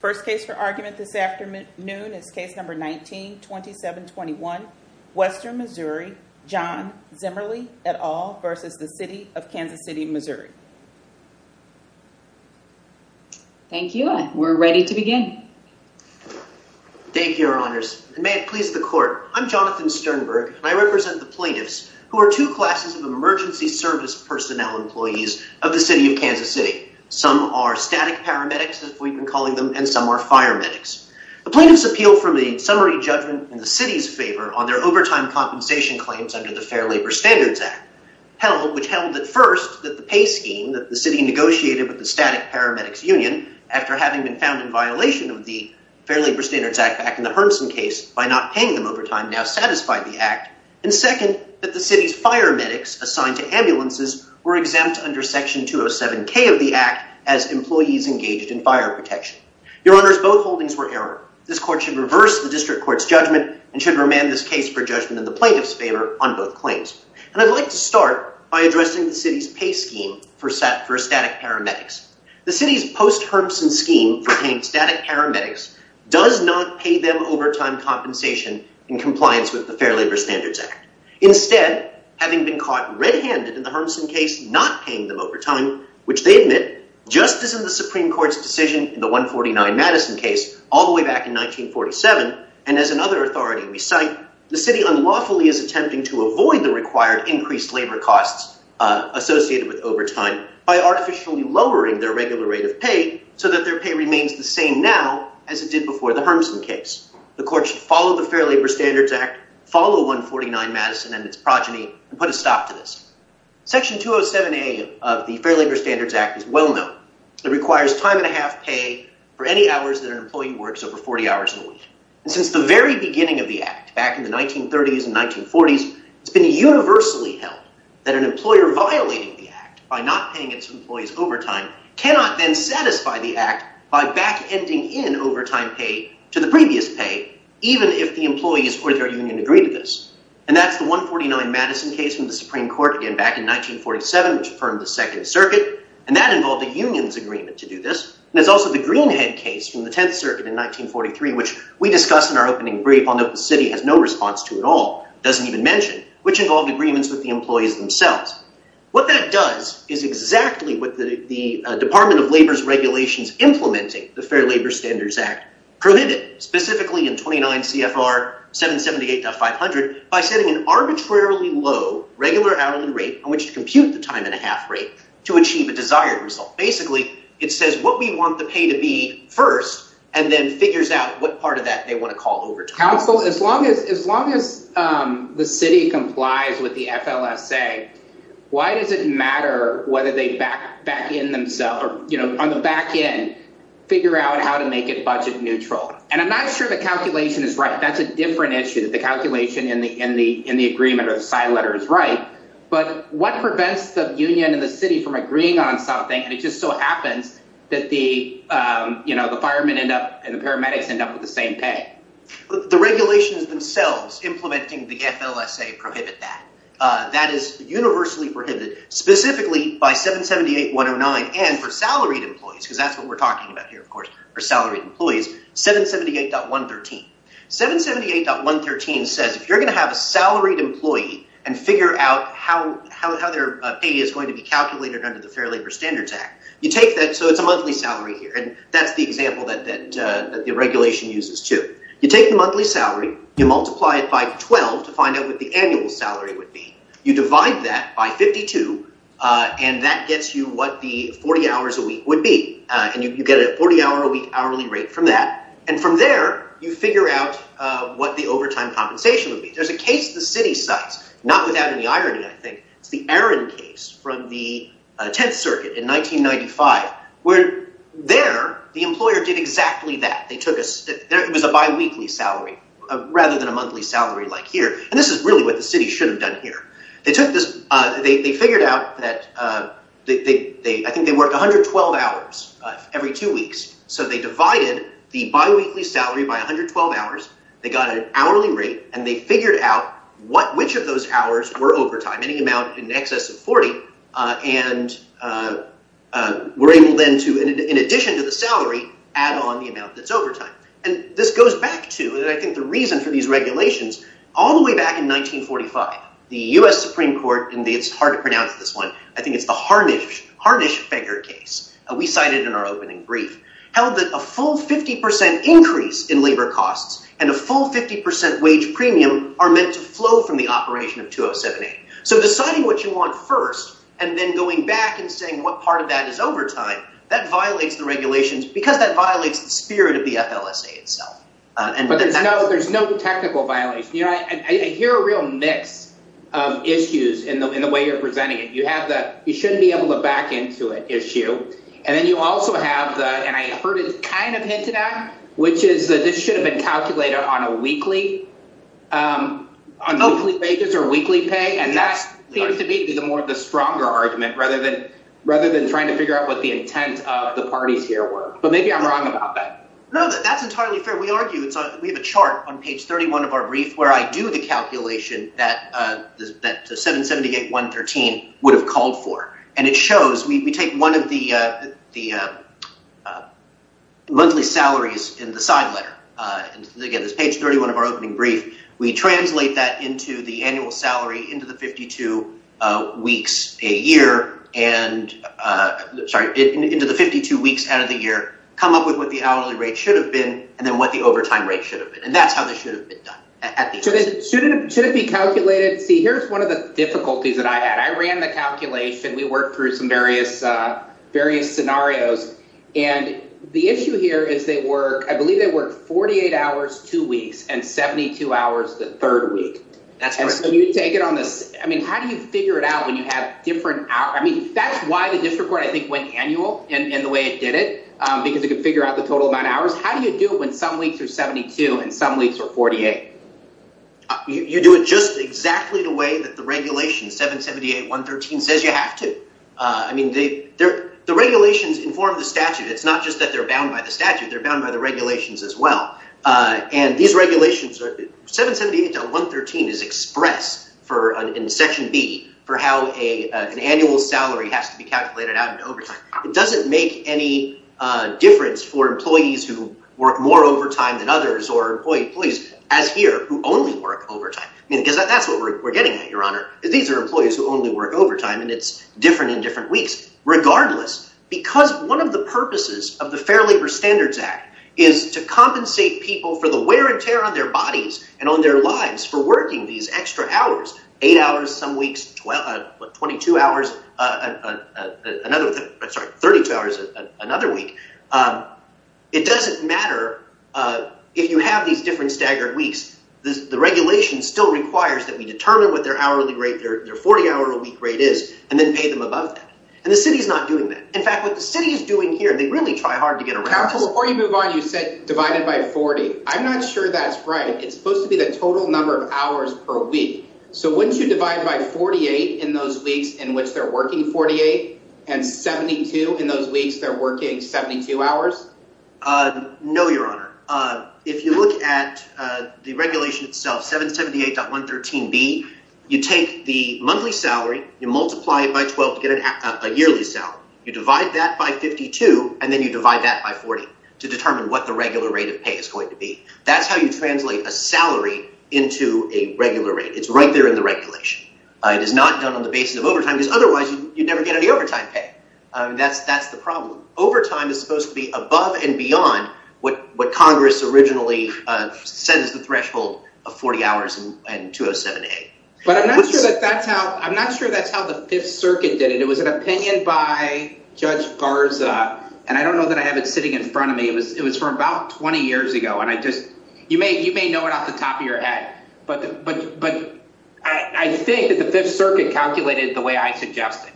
First case for argument this afternoon is case number 19-2721, Western, MO, John Zimmerli et al. v. The City of Kansas City, MO. Thank you. We're ready to begin. Thank you, Your Honors. And may it please the Court, I'm Jonathan Sternberg, and I represent the plaintiffs, who are two classes of emergency service personnel employees of the City of Kansas, and some are fire medics. The plaintiffs appeal from a summary judgment in the City's favor on their overtime compensation claims under the Fair Labor Standards Act, which held that first, that the pay scheme that the City negotiated with the Static Paramedics Union after having been found in violation of the Fair Labor Standards Act back in the Hermsen case by not paying them overtime now satisfied the Act, and second, that the City's fire medics assigned to ambulances were exempt under Section 207K of the Act as employees engaged in fire protection. Your Honors, both holdings were error. This Court should reverse the District Court's judgment and should remand this case for judgment in the plaintiffs' favor on both claims. And I'd like to start by addressing the City's pay scheme for static paramedics. The City's post-Hermsen scheme for paying static paramedics does not pay them overtime compensation in compliance with the Fair Labor Standards Act. Instead, having been caught red-handed in the Hermsen case not paying them overtime, which they did in court's decision in the 149 Madison case all the way back in 1947, and as another authority we cite, the City unlawfully is attempting to avoid the required increased labor costs associated with overtime by artificially lowering their regular rate of pay so that their pay remains the same now as it did before the Hermsen case. The Court should follow the Fair Labor Standards Act, follow 149 Madison and its progeny, and put a stop to this. Section 207A of the Fair Labor Standards Act is well known. It requires time and a half pay for any hours that an employee works over 40 hours a week. And since the very beginning of the Act, back in the 1930s and 1940s, it's been universally held that an employer violating the Act by not paying its employees overtime cannot then satisfy the Act by back-ending in overtime pay to the previous pay, even if the employees or their union agree to this. And that's the 149 Madison case from the Supreme Court, again back in 1947, which affirmed the Second Circuit, and that involved a union's agreement to do this. And it's also the Greenhead case from the Tenth Circuit in 1943, which we discussed in our opening brief, although the City has no response to at all, doesn't even mention, which involved agreements with the employees themselves. What that does is exactly what the Department of Labor's regulations implementing the Fair Labor Standards Act prohibit, specifically in 29 CFR 778.500, by setting an arbitrarily low regular hourly rate on which to compute the time and a half rate to achieve a desired result. Basically, it says what we want the pay to be first, and then figures out what part of that they want to call overtime. Council, as long as the City complies with the FLSA, why does it matter whether they back in themselves, or on the back end, figure out how to make it budget neutral? And I'm not sure the calculation is right. That's a different issue, that the calculation in the agreement or the side letter is right. But what prevents the union and the City from agreeing on something, and it just so happens that the firemen end up, and the paramedics end up with the same pay? The regulations themselves implementing the FLSA prohibit that. That is universally prohibited, specifically by 778.109, and for salaried employees, because that's what we're talking about here, of course, for salaried employees, 778.113. 778.113 says if you're going to have a salaried employee and figure out how their pay is going to be calculated under the Fair Labor Standards Act, you take that, so it's a monthly salary here, and that's the example that the regulation uses too. You take the monthly salary, you multiply it by 12 to find out what the annual salary would be. You divide that by 52, and that gets you what the 40 hours a week would be, and you get a 40 hour a week hourly rate from that. And from there, you figure out what the overtime compensation would be. There's a case the City cites, not without any irony, I think, it's the Arron case from the 10th Circuit in 1995, where there, the employer did exactly that. It was a biweekly salary rather than a monthly salary like here, and this is really what the City should have done here. They figured out that, I think they work 112 hours every two weeks, so they divided the biweekly salary by 112 hours, they got an hourly rate, and they figured out which of those hours were overtime, any amount in excess of 40, and were able then to, in addition to the salary, add on the amount that's overtime. And this goes back to, and I think the reason for these regulations, all the way back in 1945, the U.S. Supreme Court, and it's hard to pronounce this one, I think it's the Harnisch-Feger case, we cited in our opening brief, held that a full 50% increase in labor costs and a full 50% wage premium are meant to flow from the operation of 2078. So deciding what you want first, and then going back and saying what part of that is overtime, that violates the regulations because that violates the I hear a real mix of issues in the way you're presenting it. You have the, you shouldn't be able to back into it issue, and then you also have the, and I heard it kind of hinted at, which is that this should have been calculated on a weekly, on weekly wages or weekly pay, and that seems to be the stronger argument, rather than trying to figure out what the intent of the parties here were. But maybe I'm wrong about that. No, that's entirely fair. We argue, we have a chart on page 31 of our brief where I do the calculation that 778.113 would have called for, and it shows, we take one of the monthly salaries in the side letter, and again, there's page 31 of our opening brief, we translate that into the annual salary into the 52 weeks a year, and, sorry, into the 52 weeks out of the year, come up with what the hourly rate should have been, and then what the overtime rate should have been, and that's how they should have been done. Should it be calculated? See, here's one of the difficulties that I had. I ran the calculation, we worked through some various scenarios, and the issue here is they work, I believe they work 48 hours, two weeks, and 72 hours the third week. That's correct. And so you take it on this, I mean, how do you figure it out when you have different hours? I mean, that's why the district court, I think, went annual in the way it did it, because it could figure out the total amount of hours. How do you do it when some weeks are 72 and some weeks are 48? You do it just exactly the way that the regulation, 778.113, says you have to. I mean, the regulations inform the statute. It's not just that they're bound by the statute, they're bound by the regulations as well, and these regulations, 778.113 is expressed in Section B for how an annual salary has to be calculated out in overtime. It doesn't make any difference for employees who work more overtime than others or employees, as here, who only work overtime. I mean, because that's what we're getting at, Your Honor. These are employees who only work overtime, and it's different in different weeks. Regardless, because one of the purposes of the Fair Labor Standards Act is to compensate people for the wear and tear on their bodies and on their lives for working these extra hours, eight hours some weeks, 22 hours, another, I'm sorry, 32 hours another week, it doesn't matter if you have these different staggered weeks. The regulation still requires that we determine what their hourly rate, their 40-hour-a-week rate is, and then pay them above that, and the city's not doing that. In fact, what the city is doing here, they really try hard to get around this. Counsel, before you move on, you said divided by 40. I'm not sure that's right. It's supposed to be the total number of hours per week. So wouldn't you divide by 48 in those weeks in which they're working 48, and 72 in those weeks they're working 72 hours? No, Your Honor. If you look at the regulation itself, 778.113B, you take the monthly salary, you multiply it by 12 to get a yearly salary. You divide that by 52, and then you divide that by 40 to determine what the regular rate of pay is going to be. That's how you translate a salary into a regular rate. It's right there in the regulation. It is not done on the basis of overtime, because otherwise you'd never get any overtime pay. That's the problem. Overtime is supposed to be above and beyond what Congress originally set as the threshold of 40 hours and 207A. But I'm not sure that's how the Fifth Circuit did it. It was an opinion by Judge Garza, and I don't know that I have it sitting in front of me. It was from about 20 years ago, and you may know it off the top of your head, but I think that the Fifth Circuit calculated it the way I suggested.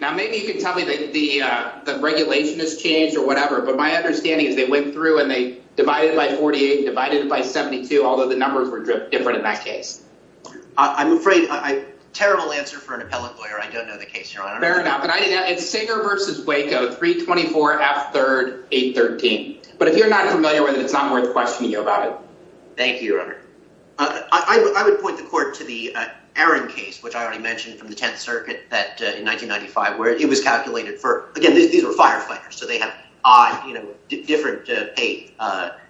Now, maybe you can tell me that the regulation has changed or whatever, but my understanding is they went through and they divided it by 48 and divided it by 72, although the numbers were different in that case. I'm afraid I have a terrible answer for an appellate lawyer. I don't know the case, Your Honor. Fair enough. It's Singer v. Waco, 324F3R813. But if you're not familiar with it, it's not worth questioning you about it. Thank you, Your Honor. I would point the court to the Aaron case, which I already mentioned from the Tenth Circuit in 1995, where it was calculated for, again, these were firefighters, so they have different pay.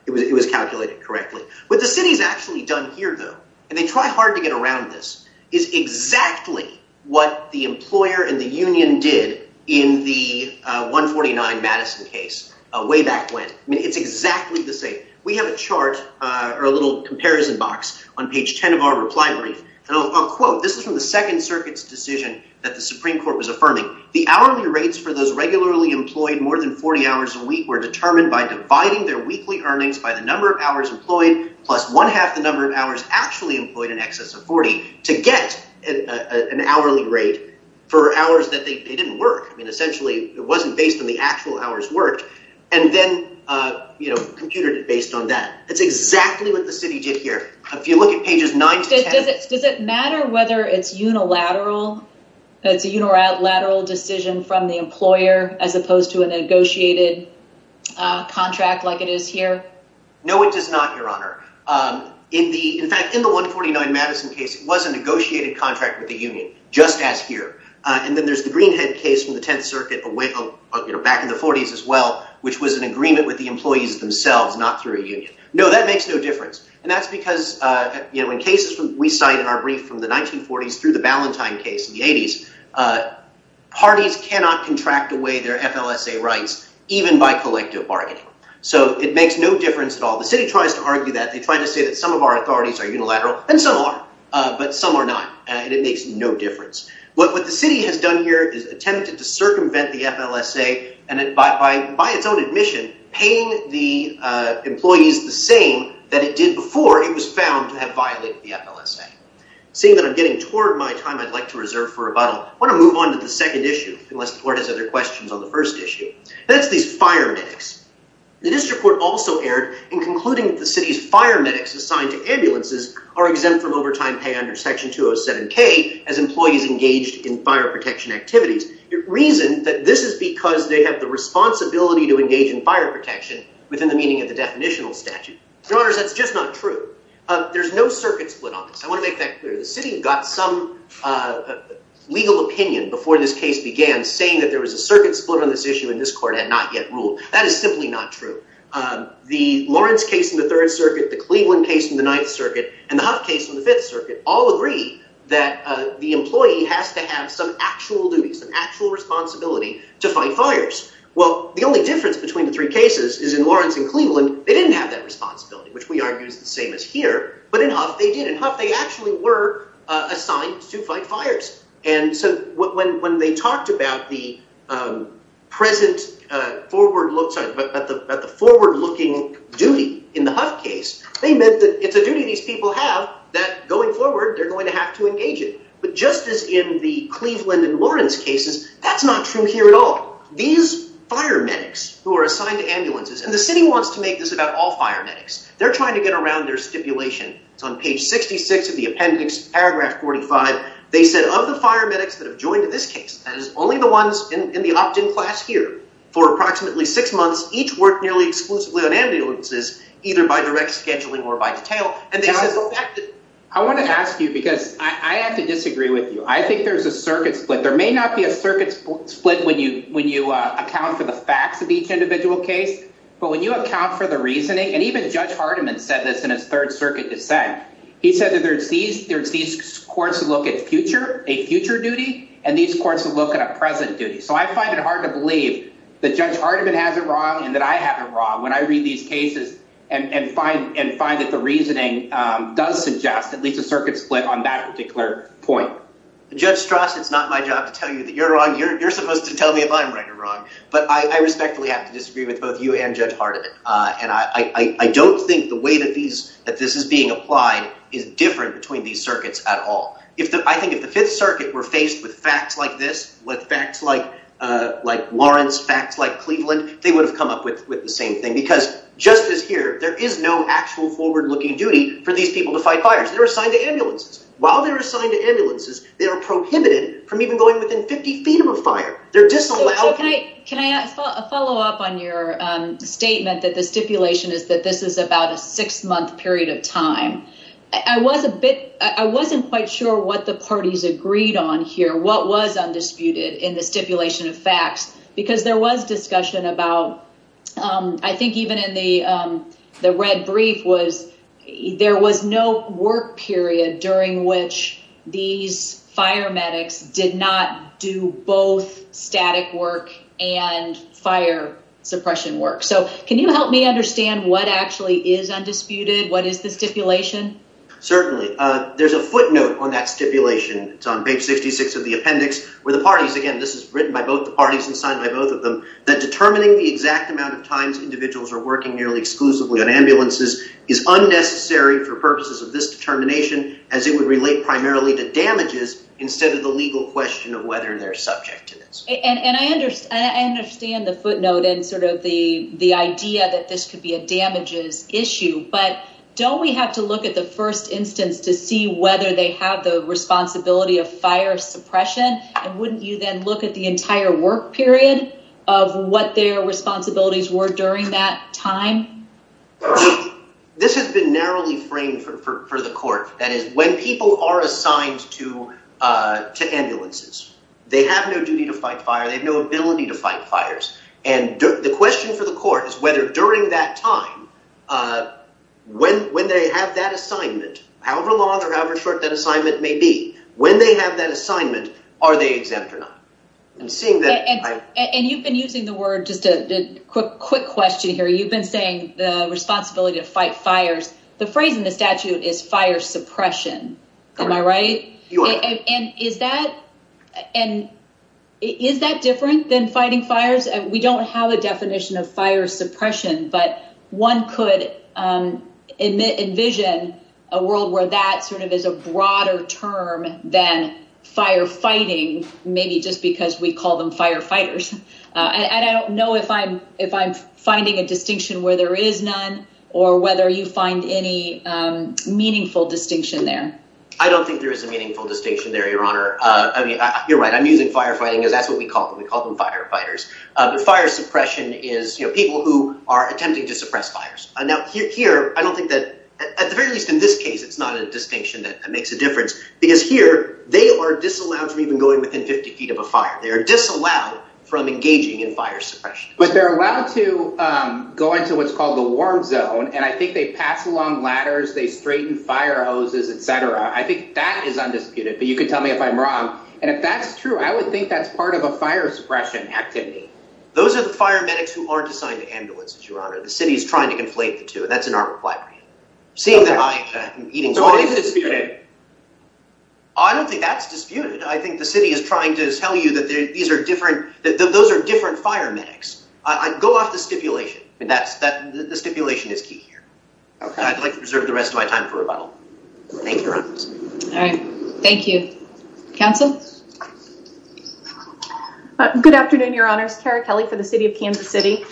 It was calculated correctly. What the city's actually done here, though, and they try hard to get around this, is exactly what the employer and the union did in the 149 Madison case way back when. I mean, it's exactly the same. We have a chart or a little comparison box on page 10 of our reply brief, and I'll quote. This is from the Second Circuit's decision that the Supreme Court was affirming. The hourly rates for those regularly employed more than 40 hours a week were determined by dividing their weekly earnings by the number of hours employed plus one-half the number of hours actually employed in excess of 40 to get an hourly rate for hours that they didn't work. I mean, essentially, it wasn't based on the actual hours worked. And then, you know, computed it based on that. That's exactly what the city did here. If you look at pages 9 to 10. Does it matter whether it's unilateral? It's a unilateral decision from the employer as opposed to a negotiated contract like it is here? No, it does not, Your Honor. In fact, in the 149 Madison case, it was a negotiated contract with the union, just as here. And then there's the Greenhead case from the Tenth Circuit back in the 40s as well, which was an agreement with the employees themselves, not through a union. No, that makes no difference. And that's because, you know, in cases we cite in our brief from the 1940s through the Ballantyne case in the 80s, parties cannot contract away their FLSA rights even by collective bargaining. So it makes no difference at all. The city tries to argue that. They try to say that some of our authorities are unilateral, and some are, but some are not. And it makes no difference. What the city has done here is attempted to circumvent the FLSA and by its own admission, paying the employees the same that it did before it was found to have violated the FLSA. Seeing that I'm getting toward my time I'd like to reserve for rebuttal, I want to move on to the second issue, unless the court has other questions on the first issue. That's these fire medics. The district court also erred in concluding that the city's fire medics assigned to ambulances are exempt from overtime pay under Section 207k as employees engaged in fire protection activities. It reasoned that this is because they have the responsibility to engage in fire protection within the meaning of the definitional statute. Your honors, that's just not true. There's no circuit split on this. I want to make that clear. The city got some legal opinion before this case began saying that there was a circuit split on this issue and this court had not yet ruled. That is simply not true. The Lawrence case in the Third Circuit, the Cleveland case in the Ninth Circuit, and the Huff case in the Fifth Circuit all agree that the employee has to have some actual duty, some actual responsibility to fight fires. Well, the only difference between the three cases is in Lawrence and Cleveland they didn't have that responsibility, which we argue is the same as here, but in Huff they did. In Huff they actually were assigned to fight fires and so when they talked about the present forward-looking duty in the Huff case, they meant that it's a duty these people have that going forward they're going to have to engage it. But just as in the Cleveland and Lawrence cases, that's not true here at all. These fire medics who are assigned to ambulances, and the city wants to make this about all fire medics, they're trying to get around their stipulation. It's on page 66 of the appendix, paragraph 45, they said of the fire medics that have joined in this case, that is only the ones in the opt-in class here, for approximately six months each work nearly exclusively on either by direct scheduling or by detail. I want to ask you, because I have to disagree with you, I think there's a circuit split. There may not be a circuit split when you account for the facts of each individual case, but when you account for the reasoning, and even Judge Hardiman said this in his third circuit dissent, he said that there's these courts to look at future, a future duty, and these courts to look at a present duty. So I find it hard to believe that Judge Hardiman has it wrong and that I have it wrong when I read these cases and find that the reasoning does suggest at least a circuit split on that particular point. Judge Strauss, it's not my job to tell you that you're wrong. You're supposed to tell me if I'm right or wrong, but I respectfully have to disagree with both you and Judge Hardiman, and I don't think the way that these, that this is being applied is different between these circuits at all. If the, I think if the fifth circuit were faced with facts like this, with facts like Lawrence, facts like Cleveland, they would have come up with the same thing because just as here, there is no actual forward looking duty for these people to fight fires. They're assigned to ambulances. While they're assigned to ambulances, they are prohibited from even going within 50 feet of a fire. They're disallowed. Can I follow up on your statement that the stipulation is that this is about a six month period of time? I was a bit, I wasn't quite sure what the parties agreed on here, what was undisputed in the stipulation of facts, because there was discussion about, I think even in the, the red brief was there was no work period during which these fire medics did not do both static work and fire suppression work. So can you help me understand what actually is undisputed? What is the stipulation? Certainly. There's a footnote on that where the parties, again, this is written by both the parties and signed by both of them, that determining the exact amount of times individuals are working nearly exclusively on ambulances is unnecessary for purposes of this determination, as it would relate primarily to damages instead of the legal question of whether they're subject to this. And I understand the footnote and sort of the, the idea that this could be a damages issue, but don't we have to look at the first instance to see whether they have the responsibility of fire suppression? And wouldn't you then look at the entire work period of what their responsibilities were during that time? This has been narrowly framed for the court, that is when people are assigned to ambulances, they have no duty to fight fire, they have no ability to fight fires. And the question for the court is whether during that time, when they have that assignment, however long or however short that assignment may be, when they have that assignment, are they exempt or not? And you've been using the word, just a quick question here, you've been saying the responsibility to fight fires, the phrase in the statute is fire suppression, am I right? And is that different than fighting fires? We don't have a definition of fire suppression, but one could envision a world where that sort of is a broader term than firefighting, maybe just because we call them firefighters. And I don't know if I'm finding a distinction where there is none, or whether you find any meaningful distinction there. I don't think there is a meaningful distinction there, I mean, you're right, I'm using firefighting, because that's what we call them, we call them firefighters. But fire suppression is people who are attempting to suppress fires. Now here, I don't think that, at the very least in this case, it's not a distinction that makes a difference, because here, they are disallowed from even going within 50 feet of a fire, they are disallowed from engaging in fire suppression. But they're allowed to go into what's called the warm zone, and I think they pass along ladders, they straighten fire hoses, etc. I think that is disputed, but you could tell me if I'm wrong. And if that's true, I would think that's part of a fire suppression activity. Those are the fire medics who aren't assigned to ambulances, Your Honor. The city is trying to conflate the two, and that's in our requirement. Seeing that I am eating... So it is disputed. I don't think that's disputed. I think the city is trying to tell you that these are different, those are different fire medics. Go off the stipulation. The stipulation is key here. I'd like to preserve the rest of my time for rebuttal. Thank you, Your Honor. Thank you. Counsel? Good afternoon, Your Honors. Cara Kelly for the City of Kansas City.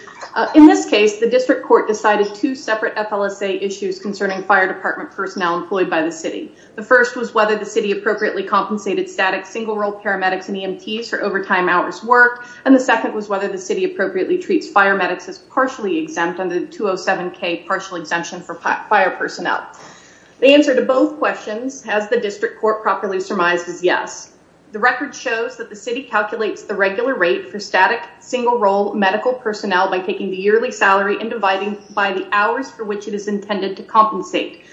In this case, the district court decided two separate FLSA issues concerning fire department personnel employed by the city. The first was whether the city appropriately compensated static single-role paramedics and EMTs for overtime hours work, and the second was whether the city appropriately treats fire medics as partially exempt under the 207k partial exemption for fire personnel. The answer to both questions, has the district court properly surmised, is yes. The record shows that the city calculates the regular rate for static single-role medical personnel by taking the yearly salary and dividing by the hours for which it is intended to compensate.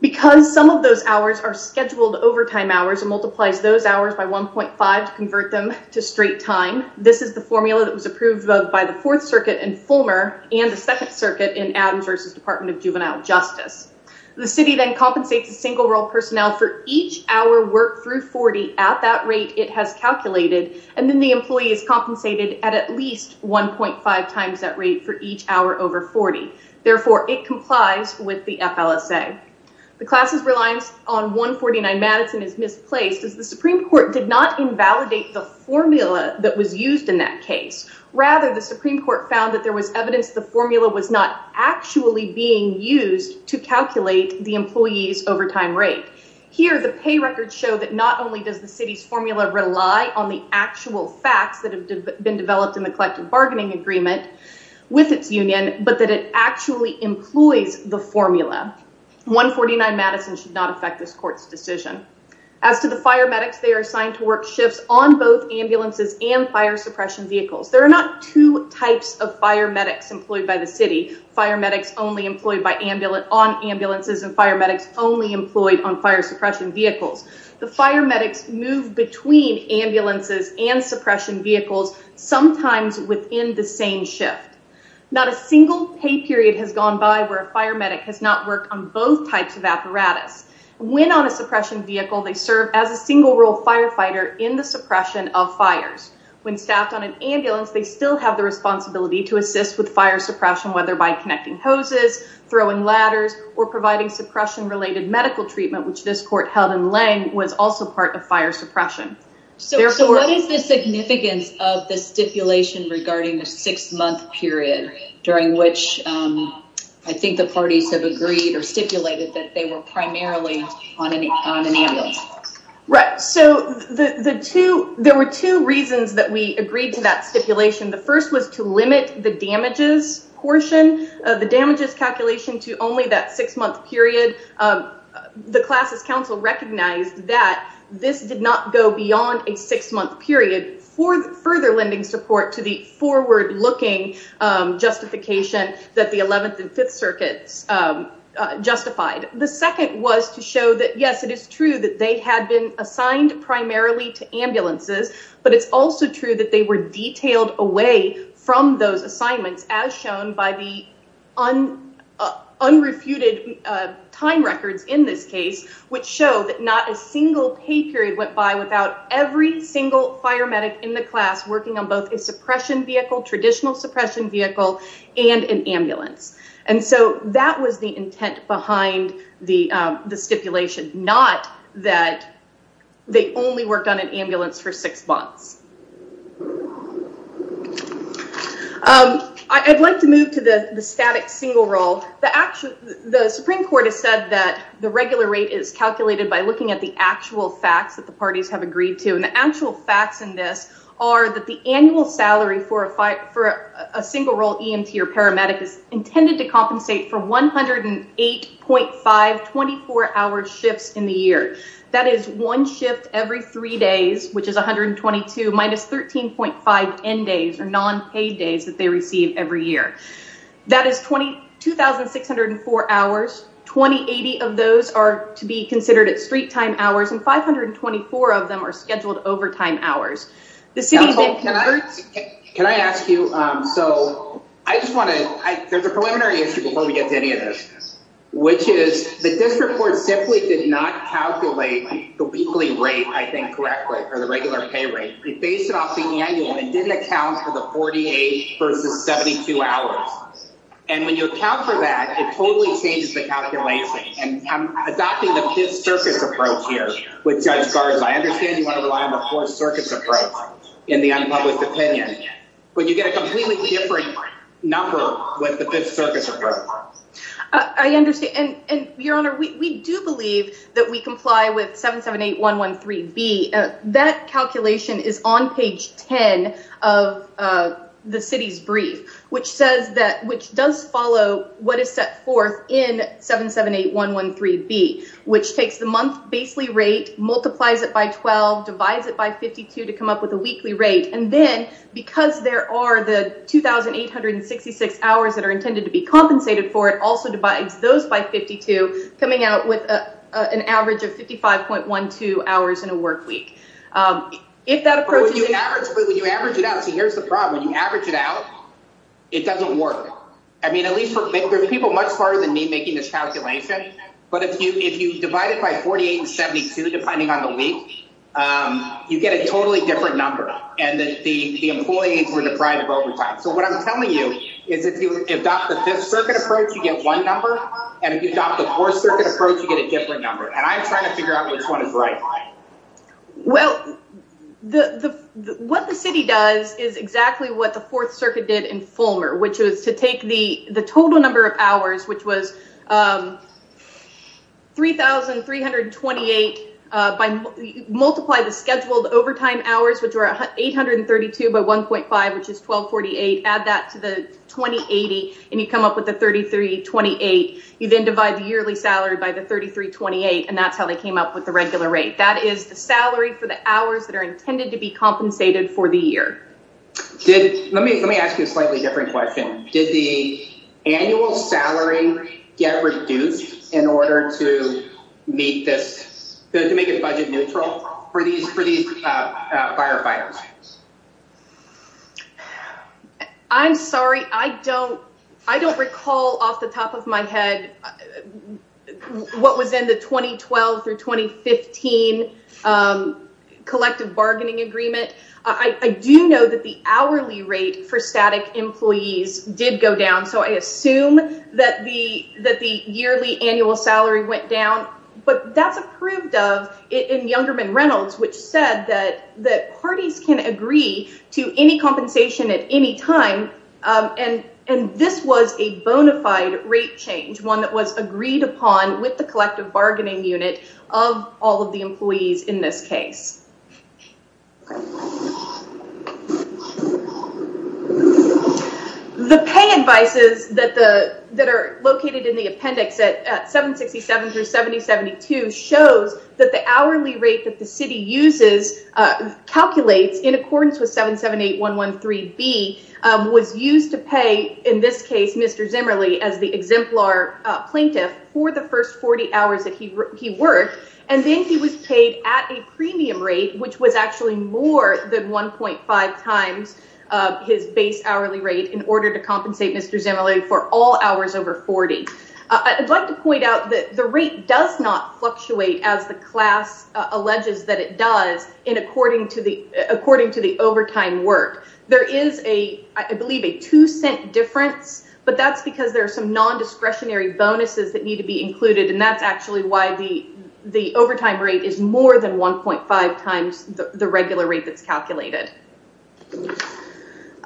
Because some of those hours are scheduled overtime hours and multiplies those hours by 1.5 to convert them to straight time, this is the formula that was approved both by the Fourth Circuit in Fulmer and the Second Circuit in Adams v. Department of Juvenile Justice. The city then compensates the single-role personnel for each hour work through 40 at that rate it has calculated, and then the employee is compensated at at least 1.5 times that rate for each hour over 40. Therefore, it complies with the FLSA. The class's reliance on 149 Madison is misplaced as the Supreme Court did not invalidate the formula that was used in that case. Rather, the Supreme Court found that there was evidence the formula was not actually being used to calculate the employee's overtime rate. Here, the pay records show that not only does the city's formula rely on the actual facts that have been developed in the collective bargaining agreement with its union, but that it actually employs the formula. 149 Madison should not affect this court's decision. As to the fire medics, they are assigned to work shifts on both ambulances and fire suppression vehicles. There are not two types of fire medics employed by the city, fire medics only employed on ambulances and fire medics only employed on fire suppression vehicles. The fire medics move between ambulances and suppression vehicles, sometimes within the same shift. Not a single pay period has gone by where a fire medic has not worked on both types of apparatus. When on a suppression vehicle, they serve as a single-role firefighter in the suppression of fires. When staffed on an ambulance, they still have the responsibility to assist with fire suppression, whether by connecting hoses, throwing ladders, or providing suppression-related medical treatment, which this court held in Lange was also part of fire suppression. So what is the significance of the stipulation regarding the six-month period during which I think the parties have agreed or stipulated that they were Right. So there were two reasons that we agreed to that stipulation. The first was to limit the damages portion of the damages calculation to only that six-month period. The classes council recognized that this did not go beyond a six-month period for further lending support to the forward looking justification that the 11th and 5th circuits justified. The second was to show that, yes, it is true that they had been assigned primarily to ambulances, but it's also true that they were detailed away from those assignments as shown by the unrefuted time records in this case, which show that not a single pay period went by without every single fire medic in the class working on both a suppression vehicle, traditional suppression vehicle, and an ambulance. And so that was the intent behind the stipulation, not that they only worked on an ambulance for six months. I'd like to move to the static single role. The Supreme Court has said that the regular rate is calculated by looking at the actual facts that the parties have agreed to. And the actual facts in this are that the annual salary for a single role EMT or paramedic is intended to compensate for 108.5 24-hour shifts in the year. That is one shift every three days, which is 122 minus 13.5 end days or non-paid days that they receive every year. That is 2,604 hours. 20 of those are to be considered at street time hours and 524 of them are scheduled overtime hours. Can I ask you, so I just want to, there's a preliminary issue before we get to any of this, which is that this report simply did not calculate the weekly rate, I think correctly, or the regular pay rate. It based it off the annual and didn't account for the 48 versus 72 hours. And when you account for that, it totally changes the calculation. And I'm adopting the circus approach in the unpublished opinion, but you get a completely different number with the fifth circus approach. I understand. And your honor, we do believe that we comply with 778113B. That calculation is on page 10 of the city's brief, which says that, which does follow what to come up with a weekly rate. And then because there are the 2,866 hours that are intended to be compensated for, it also divides those by 52 coming out with an average of 55.12 hours in a work week. If that approach, when you average it out, so here's the problem. When you average it out, it doesn't work. I mean, at least there's people much smarter than me making this calculation, but if you, if you divide it by 48 and 72, depending on the week, you get a totally different number and that the employees were deprived of overtime. So what I'm telling you is if you adopt the fifth circuit approach, you get one number. And if you adopt the fourth circuit approach, you get a different number. And I'm trying to figure out which one is right. Well, the, the, what the city does is exactly what the fourth circuit did in taking the total number of hours, which was 3,328, multiply the scheduled overtime hours, which were 832 by 1.5, which is 1248. Add that to the 2080 and you come up with the 3,328. You then divide the yearly salary by the 3,328. And that's how they came up with the regular rate. That is the salary for the hours that are intended to be compensated for the year. Did, let me, let me ask you a slightly different question. Did the annual salary get reduced in order to meet this, to make it budget neutral for these, for these firefighters? I'm sorry. I don't, I don't recall off the top of my head what was in the 2012 through 2015 collective bargaining agreement. I do know that the hourly rate for static employees did go down. So I assume that the, that the yearly annual salary went down, but that's approved of it in Youngerman Reynolds, which said that, that parties can agree to any compensation at any time. And, and this was a bonafide rate change, one that was agreed upon with the collective bargaining unit of all of the employees in this case. The pay advices that the, that are located in the appendix at 767 through 7072 shows that the hourly rate that the city uses, calculates in accordance with 778113B was used to pay, in this case, Mr. Zimmerly as the exemplar plaintiff for the first 40 hours that he, he worked. And then he was paid at a premium rate, which was actually more than 1.5 times his base hourly rate in order to compensate Mr. Zimmerly for all hours over 40. I'd like to point out that the rate does not fluctuate as the class alleges that it does in according to the, according to the overtime work. There is a, I believe a two cent difference, but that's because there are some non-discretionary bonuses that need to be included. And that's actually why the, the overtime rate is more than 1.5 times the regular rate that's calculated.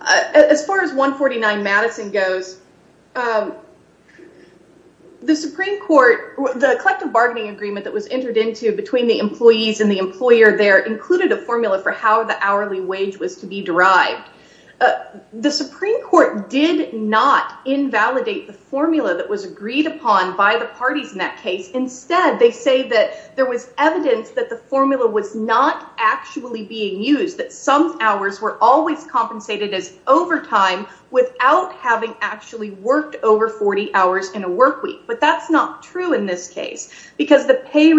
As far as 149 Madison goes, the Supreme Court, the collective bargaining agreement that was entered into between the hourly wage was to be derived. The Supreme Court did not invalidate the formula that was agreed upon by the parties in that case. Instead, they say that there was evidence that the formula was not actually being used, that some hours were always compensated as overtime without having actually worked over 40 hours in a workweek. But that's not true in this case because the pay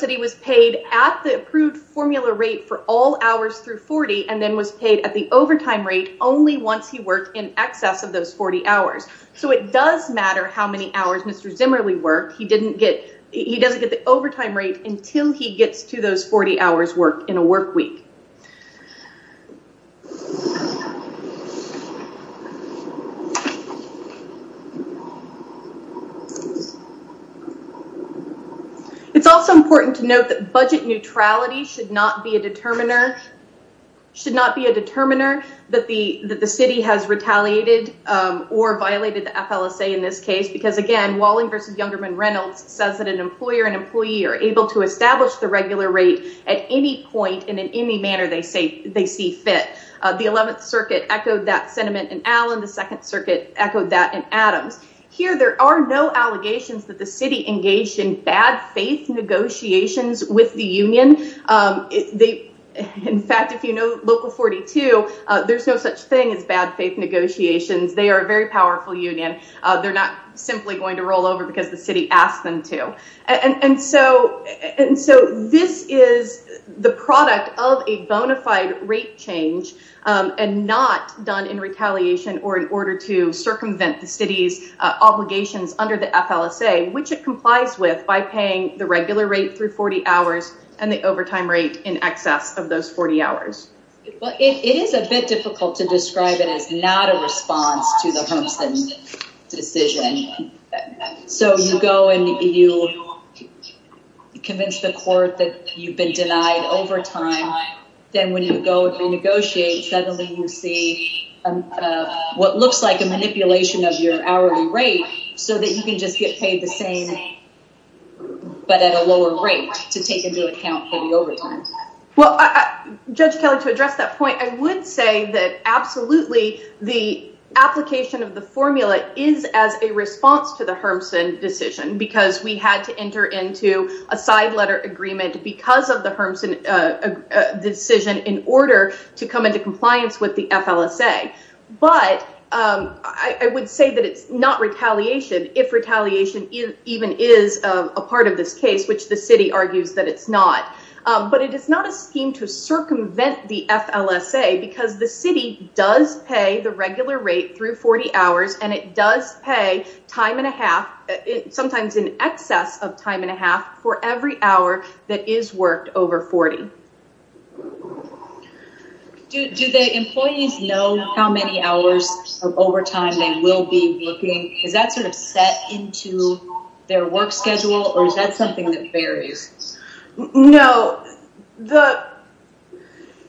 that he was paid at the approved formula rate for all hours through 40 and then was paid at the overtime rate only once he worked in excess of those 40 hours. So it does matter how many hours Mr. Zimmerly worked. He didn't get, he doesn't get the overtime rate until he gets to budget neutrality should not be a determiner, should not be a determiner that the, that the city has retaliated or violated the FLSA in this case. Because again, Walling versus Youngerman Reynolds says that an employer and employee are able to establish the regular rate at any point in any manner they say they see fit. The 11th circuit echoed that sentiment in Allen. The second circuit echoed that in Adams. Here there are no allegations that the city engaged in bad faith negotiations with the union. In fact, if you know local 42, there's no such thing as bad faith negotiations. They are a very powerful union. They're not simply going to roll over because the city asked them to. And so, and so this is the product of a bona fide rate change and not done in retaliation or in order to circumvent the city's obligations under the FLSA, which it complies with by paying the regular rate through 40 hours and the overtime rate in excess of those 40 hours. Well, it is a bit difficult to describe it as not a response to the homesteading decision. So you go and you convince the court that you've been denied overtime. Then when you go and renegotiate, suddenly you see what looks like a manipulation of your hourly rate so that you can just get paid the same, but at a lower rate to take into account for the overtime. Well, Judge Kelly, to address that point, I would say that absolutely the application of the formula is as a response to the Hermsen decision because we had to enter into a side letter agreement because of the Hermsen decision in order to come into compliance with the FLSA. But I would say that it's not retaliation if retaliation even is a part of this case, which the city argues that it's not. But it is not a scheme to circumvent the FLSA because the city does pay the regular rate through 40 hours and it does pay time and a half, sometimes in excess of time and a half for every hour that is worked over 40. Do the employees know how many hours of overtime they will be working? Is that sort of set into their work schedule or is that something that varies? No.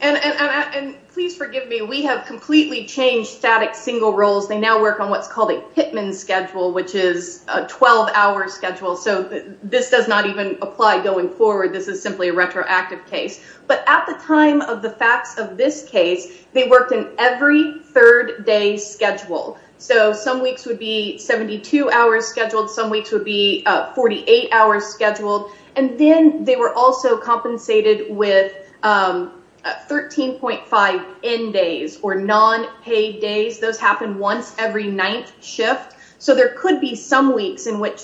And please forgive me, we have completely changed static single roles. They now work on what's called a Pittman schedule, which is a 12-hour schedule. So this does not even apply going forward. This is simply a retroactive case. But at the time of the facts of this case, they worked in every third day schedule. So some weeks would be 72 hours scheduled, some weeks would be 48 hours scheduled. And then they were also compensated with 13.5 end days or non-paid days. Those happen once every ninth shift. So there is no increase of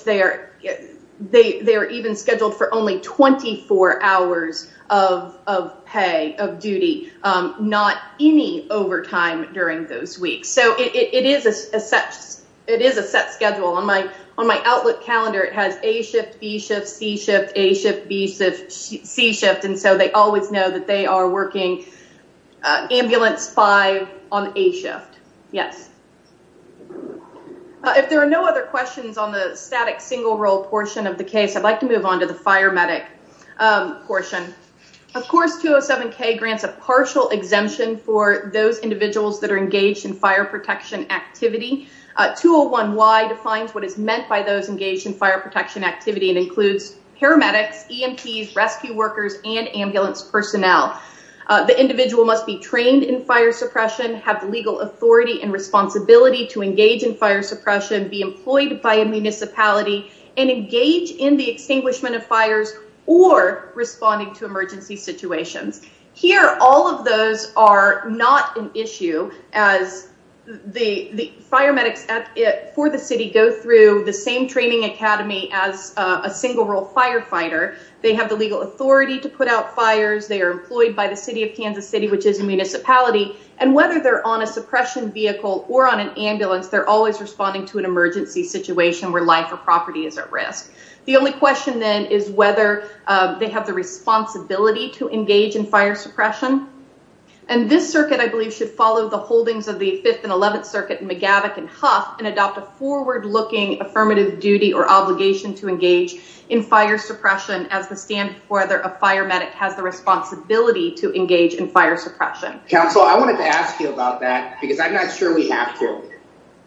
pay, of duty, not any overtime during those weeks. So it is a set schedule. On my Outlook calendar, it has A shift, B shift, C shift, A shift, B shift, C shift. And so they always know that they are working ambulance five on A shift. Yes. If there are no other questions on the static single role portion of the case, I'd like to move on to the fire medic portion. Of course, 207K grants a partial exemption for those individuals that are engaged in fire protection activity. 201Y defines what is meant by those engaged in fire protection activity and includes paramedics, EMTs, rescue workers, and ambulance personnel. The individual must be trained in fire suppression, have the legal authority and responsibility to engage in fire suppression, be employed by a municipality, and engage in the extinguishment of fires or responding to emergency situations. Here, all of those are not an issue as the fire medics for the city go through the same training academy as a single role firefighter. They have the legal authority to put out fires. They are employed by the city of Kansas City, which is a municipality. And whether they're on a suppression vehicle or on an ambulance, they're always responding to an emergency situation where life or property is at risk. The only question then is whether they have the responsibility to engage in fire suppression. And this circuit, I believe, should follow the holdings of the 5th and 11th Circuit in McGavock and Huff and adopt a forward-looking affirmative duty or obligation to engage in fire suppression as the standard for whether a fire medic has the responsibility to engage in fire suppression. Council, I wanted to ask you about that because I'm not sure we have to.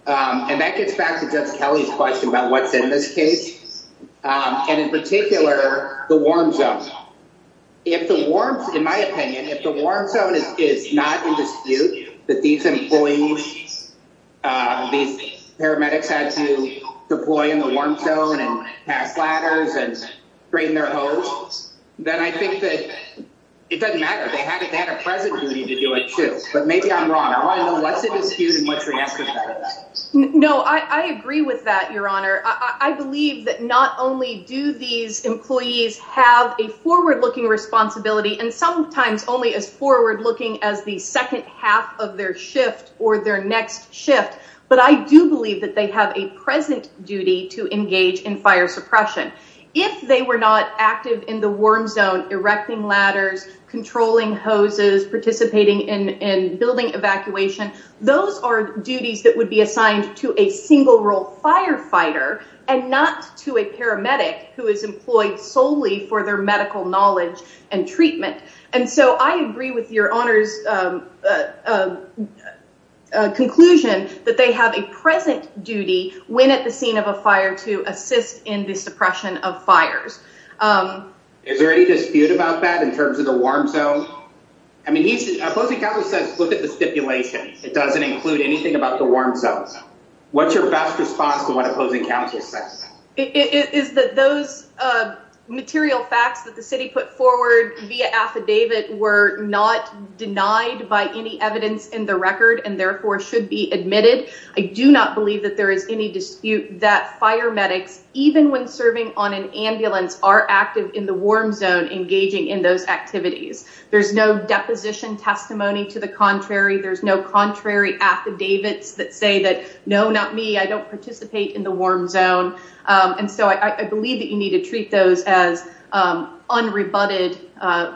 And that gets back to Judge Kelly's question about what's in this case. And in particular, the warm zone. If the warm, in my opinion, if the warm zone is not in dispute, that these employees, these paramedics had to deploy in the warm zone and pass ladders and train their hose, then I think that it doesn't matter. They had a present duty to do it too. But maybe I'm wrong. I want to know what's in dispute and what's the answer to that. No, I agree with that, Your Honor. I believe that not only do these employees have a forward-looking responsibility and sometimes only as forward-looking as the second half of their shift or their next shift, but I do believe that they have a present duty to engage in fire suppression. If they were not active in the warm those are duties that would be assigned to a single-role firefighter and not to a paramedic who is employed solely for their medical knowledge and treatment. And so I agree with Your Honor's conclusion that they have a present duty when at the scene of a fire to assist in the suppression of fires. Is there any dispute about that in terms of the warm zone? I mean, he's, look at the stipulation. It doesn't include anything about the warm zone. What's your best response to what opposing counsel says? It is that those material facts that the city put forward via affidavit were not denied by any evidence in the record and therefore should be admitted. I do not believe that there is any dispute that fire medics, even when serving on an ambulance, are active in the warm zone engaging in those activities. There's no deposition testimony to the contrary. There's no contrary affidavits that say that, no, not me, I don't participate in the warm zone. And so I believe that you need to treat those as unrebutted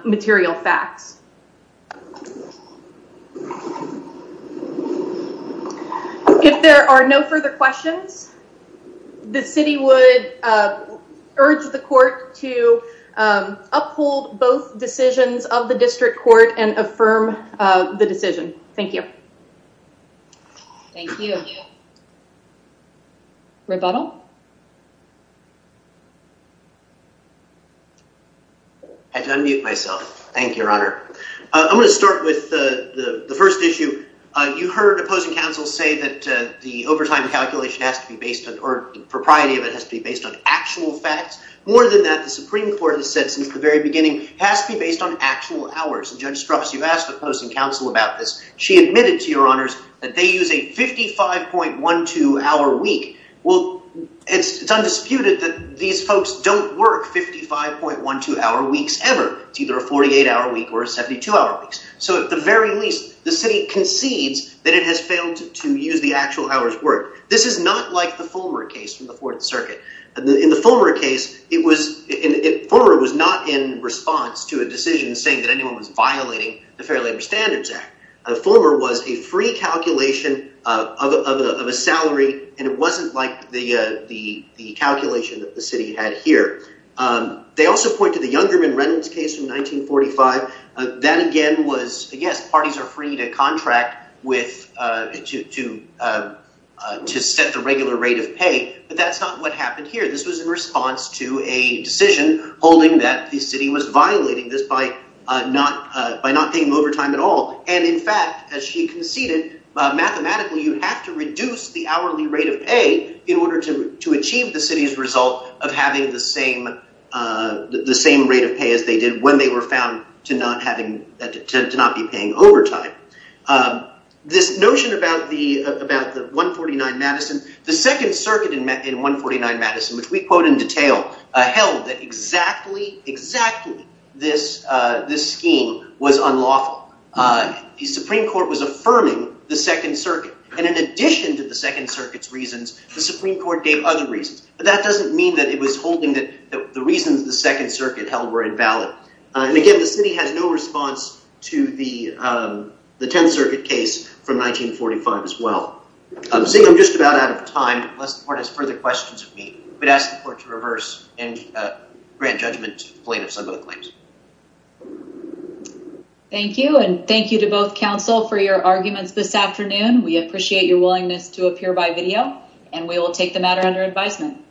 material facts. If there are no further questions, the city would urge the court to uphold both decisions of district court and affirm the decision. Thank you. Thank you. Rebuttal. I had to unmute myself. Thank you, Your Honor. I'm going to start with the first issue. You heard opposing counsel say that the overtime calculation has to be based on, or the propriety of it has to be based on actual facts. More than that, the Supreme Court has said since the very least, the city concedes that it has failed to use the actual hours worked. This is not like the Fullmer case from the Fourth Circuit. In the Fullmer case, Fullmer was not in response to a violation of the Fair Labor Standards Act. Fullmer was a free calculation of a salary, and it wasn't like the calculation that the city had here. They also pointed to the Youngerman Reynolds case from 1945. That again was, yes, parties are free to contract to set the regular rate of pay, but that's not what happened here. This was in response to a decision holding that the city was violating this by not paying overtime at all. In fact, as she conceded, mathematically, you have to reduce the hourly rate of pay in order to achieve the city's result of having the same rate of pay as they did when they were found to not be paying overtime. This notion about the 149 Madison, the Second Circuit in 149 Madison, which we quote in detail, held that exactly, exactly this scheme was unlawful. The Supreme Court was affirming the Second Circuit, and in addition to the Second Circuit's reasons, the Supreme Court gave other reasons, but that doesn't mean that it was holding that the reasons the Second Circuit held were invalid. And again, the city had no response to the Tenth Circuit case from 1945 as the court to reverse and grant judgment to plaintiffs on both claims. Thank you, and thank you to both counsel for your arguments this afternoon. We appreciate your willingness to appear by video, and we will take the matter under advisement.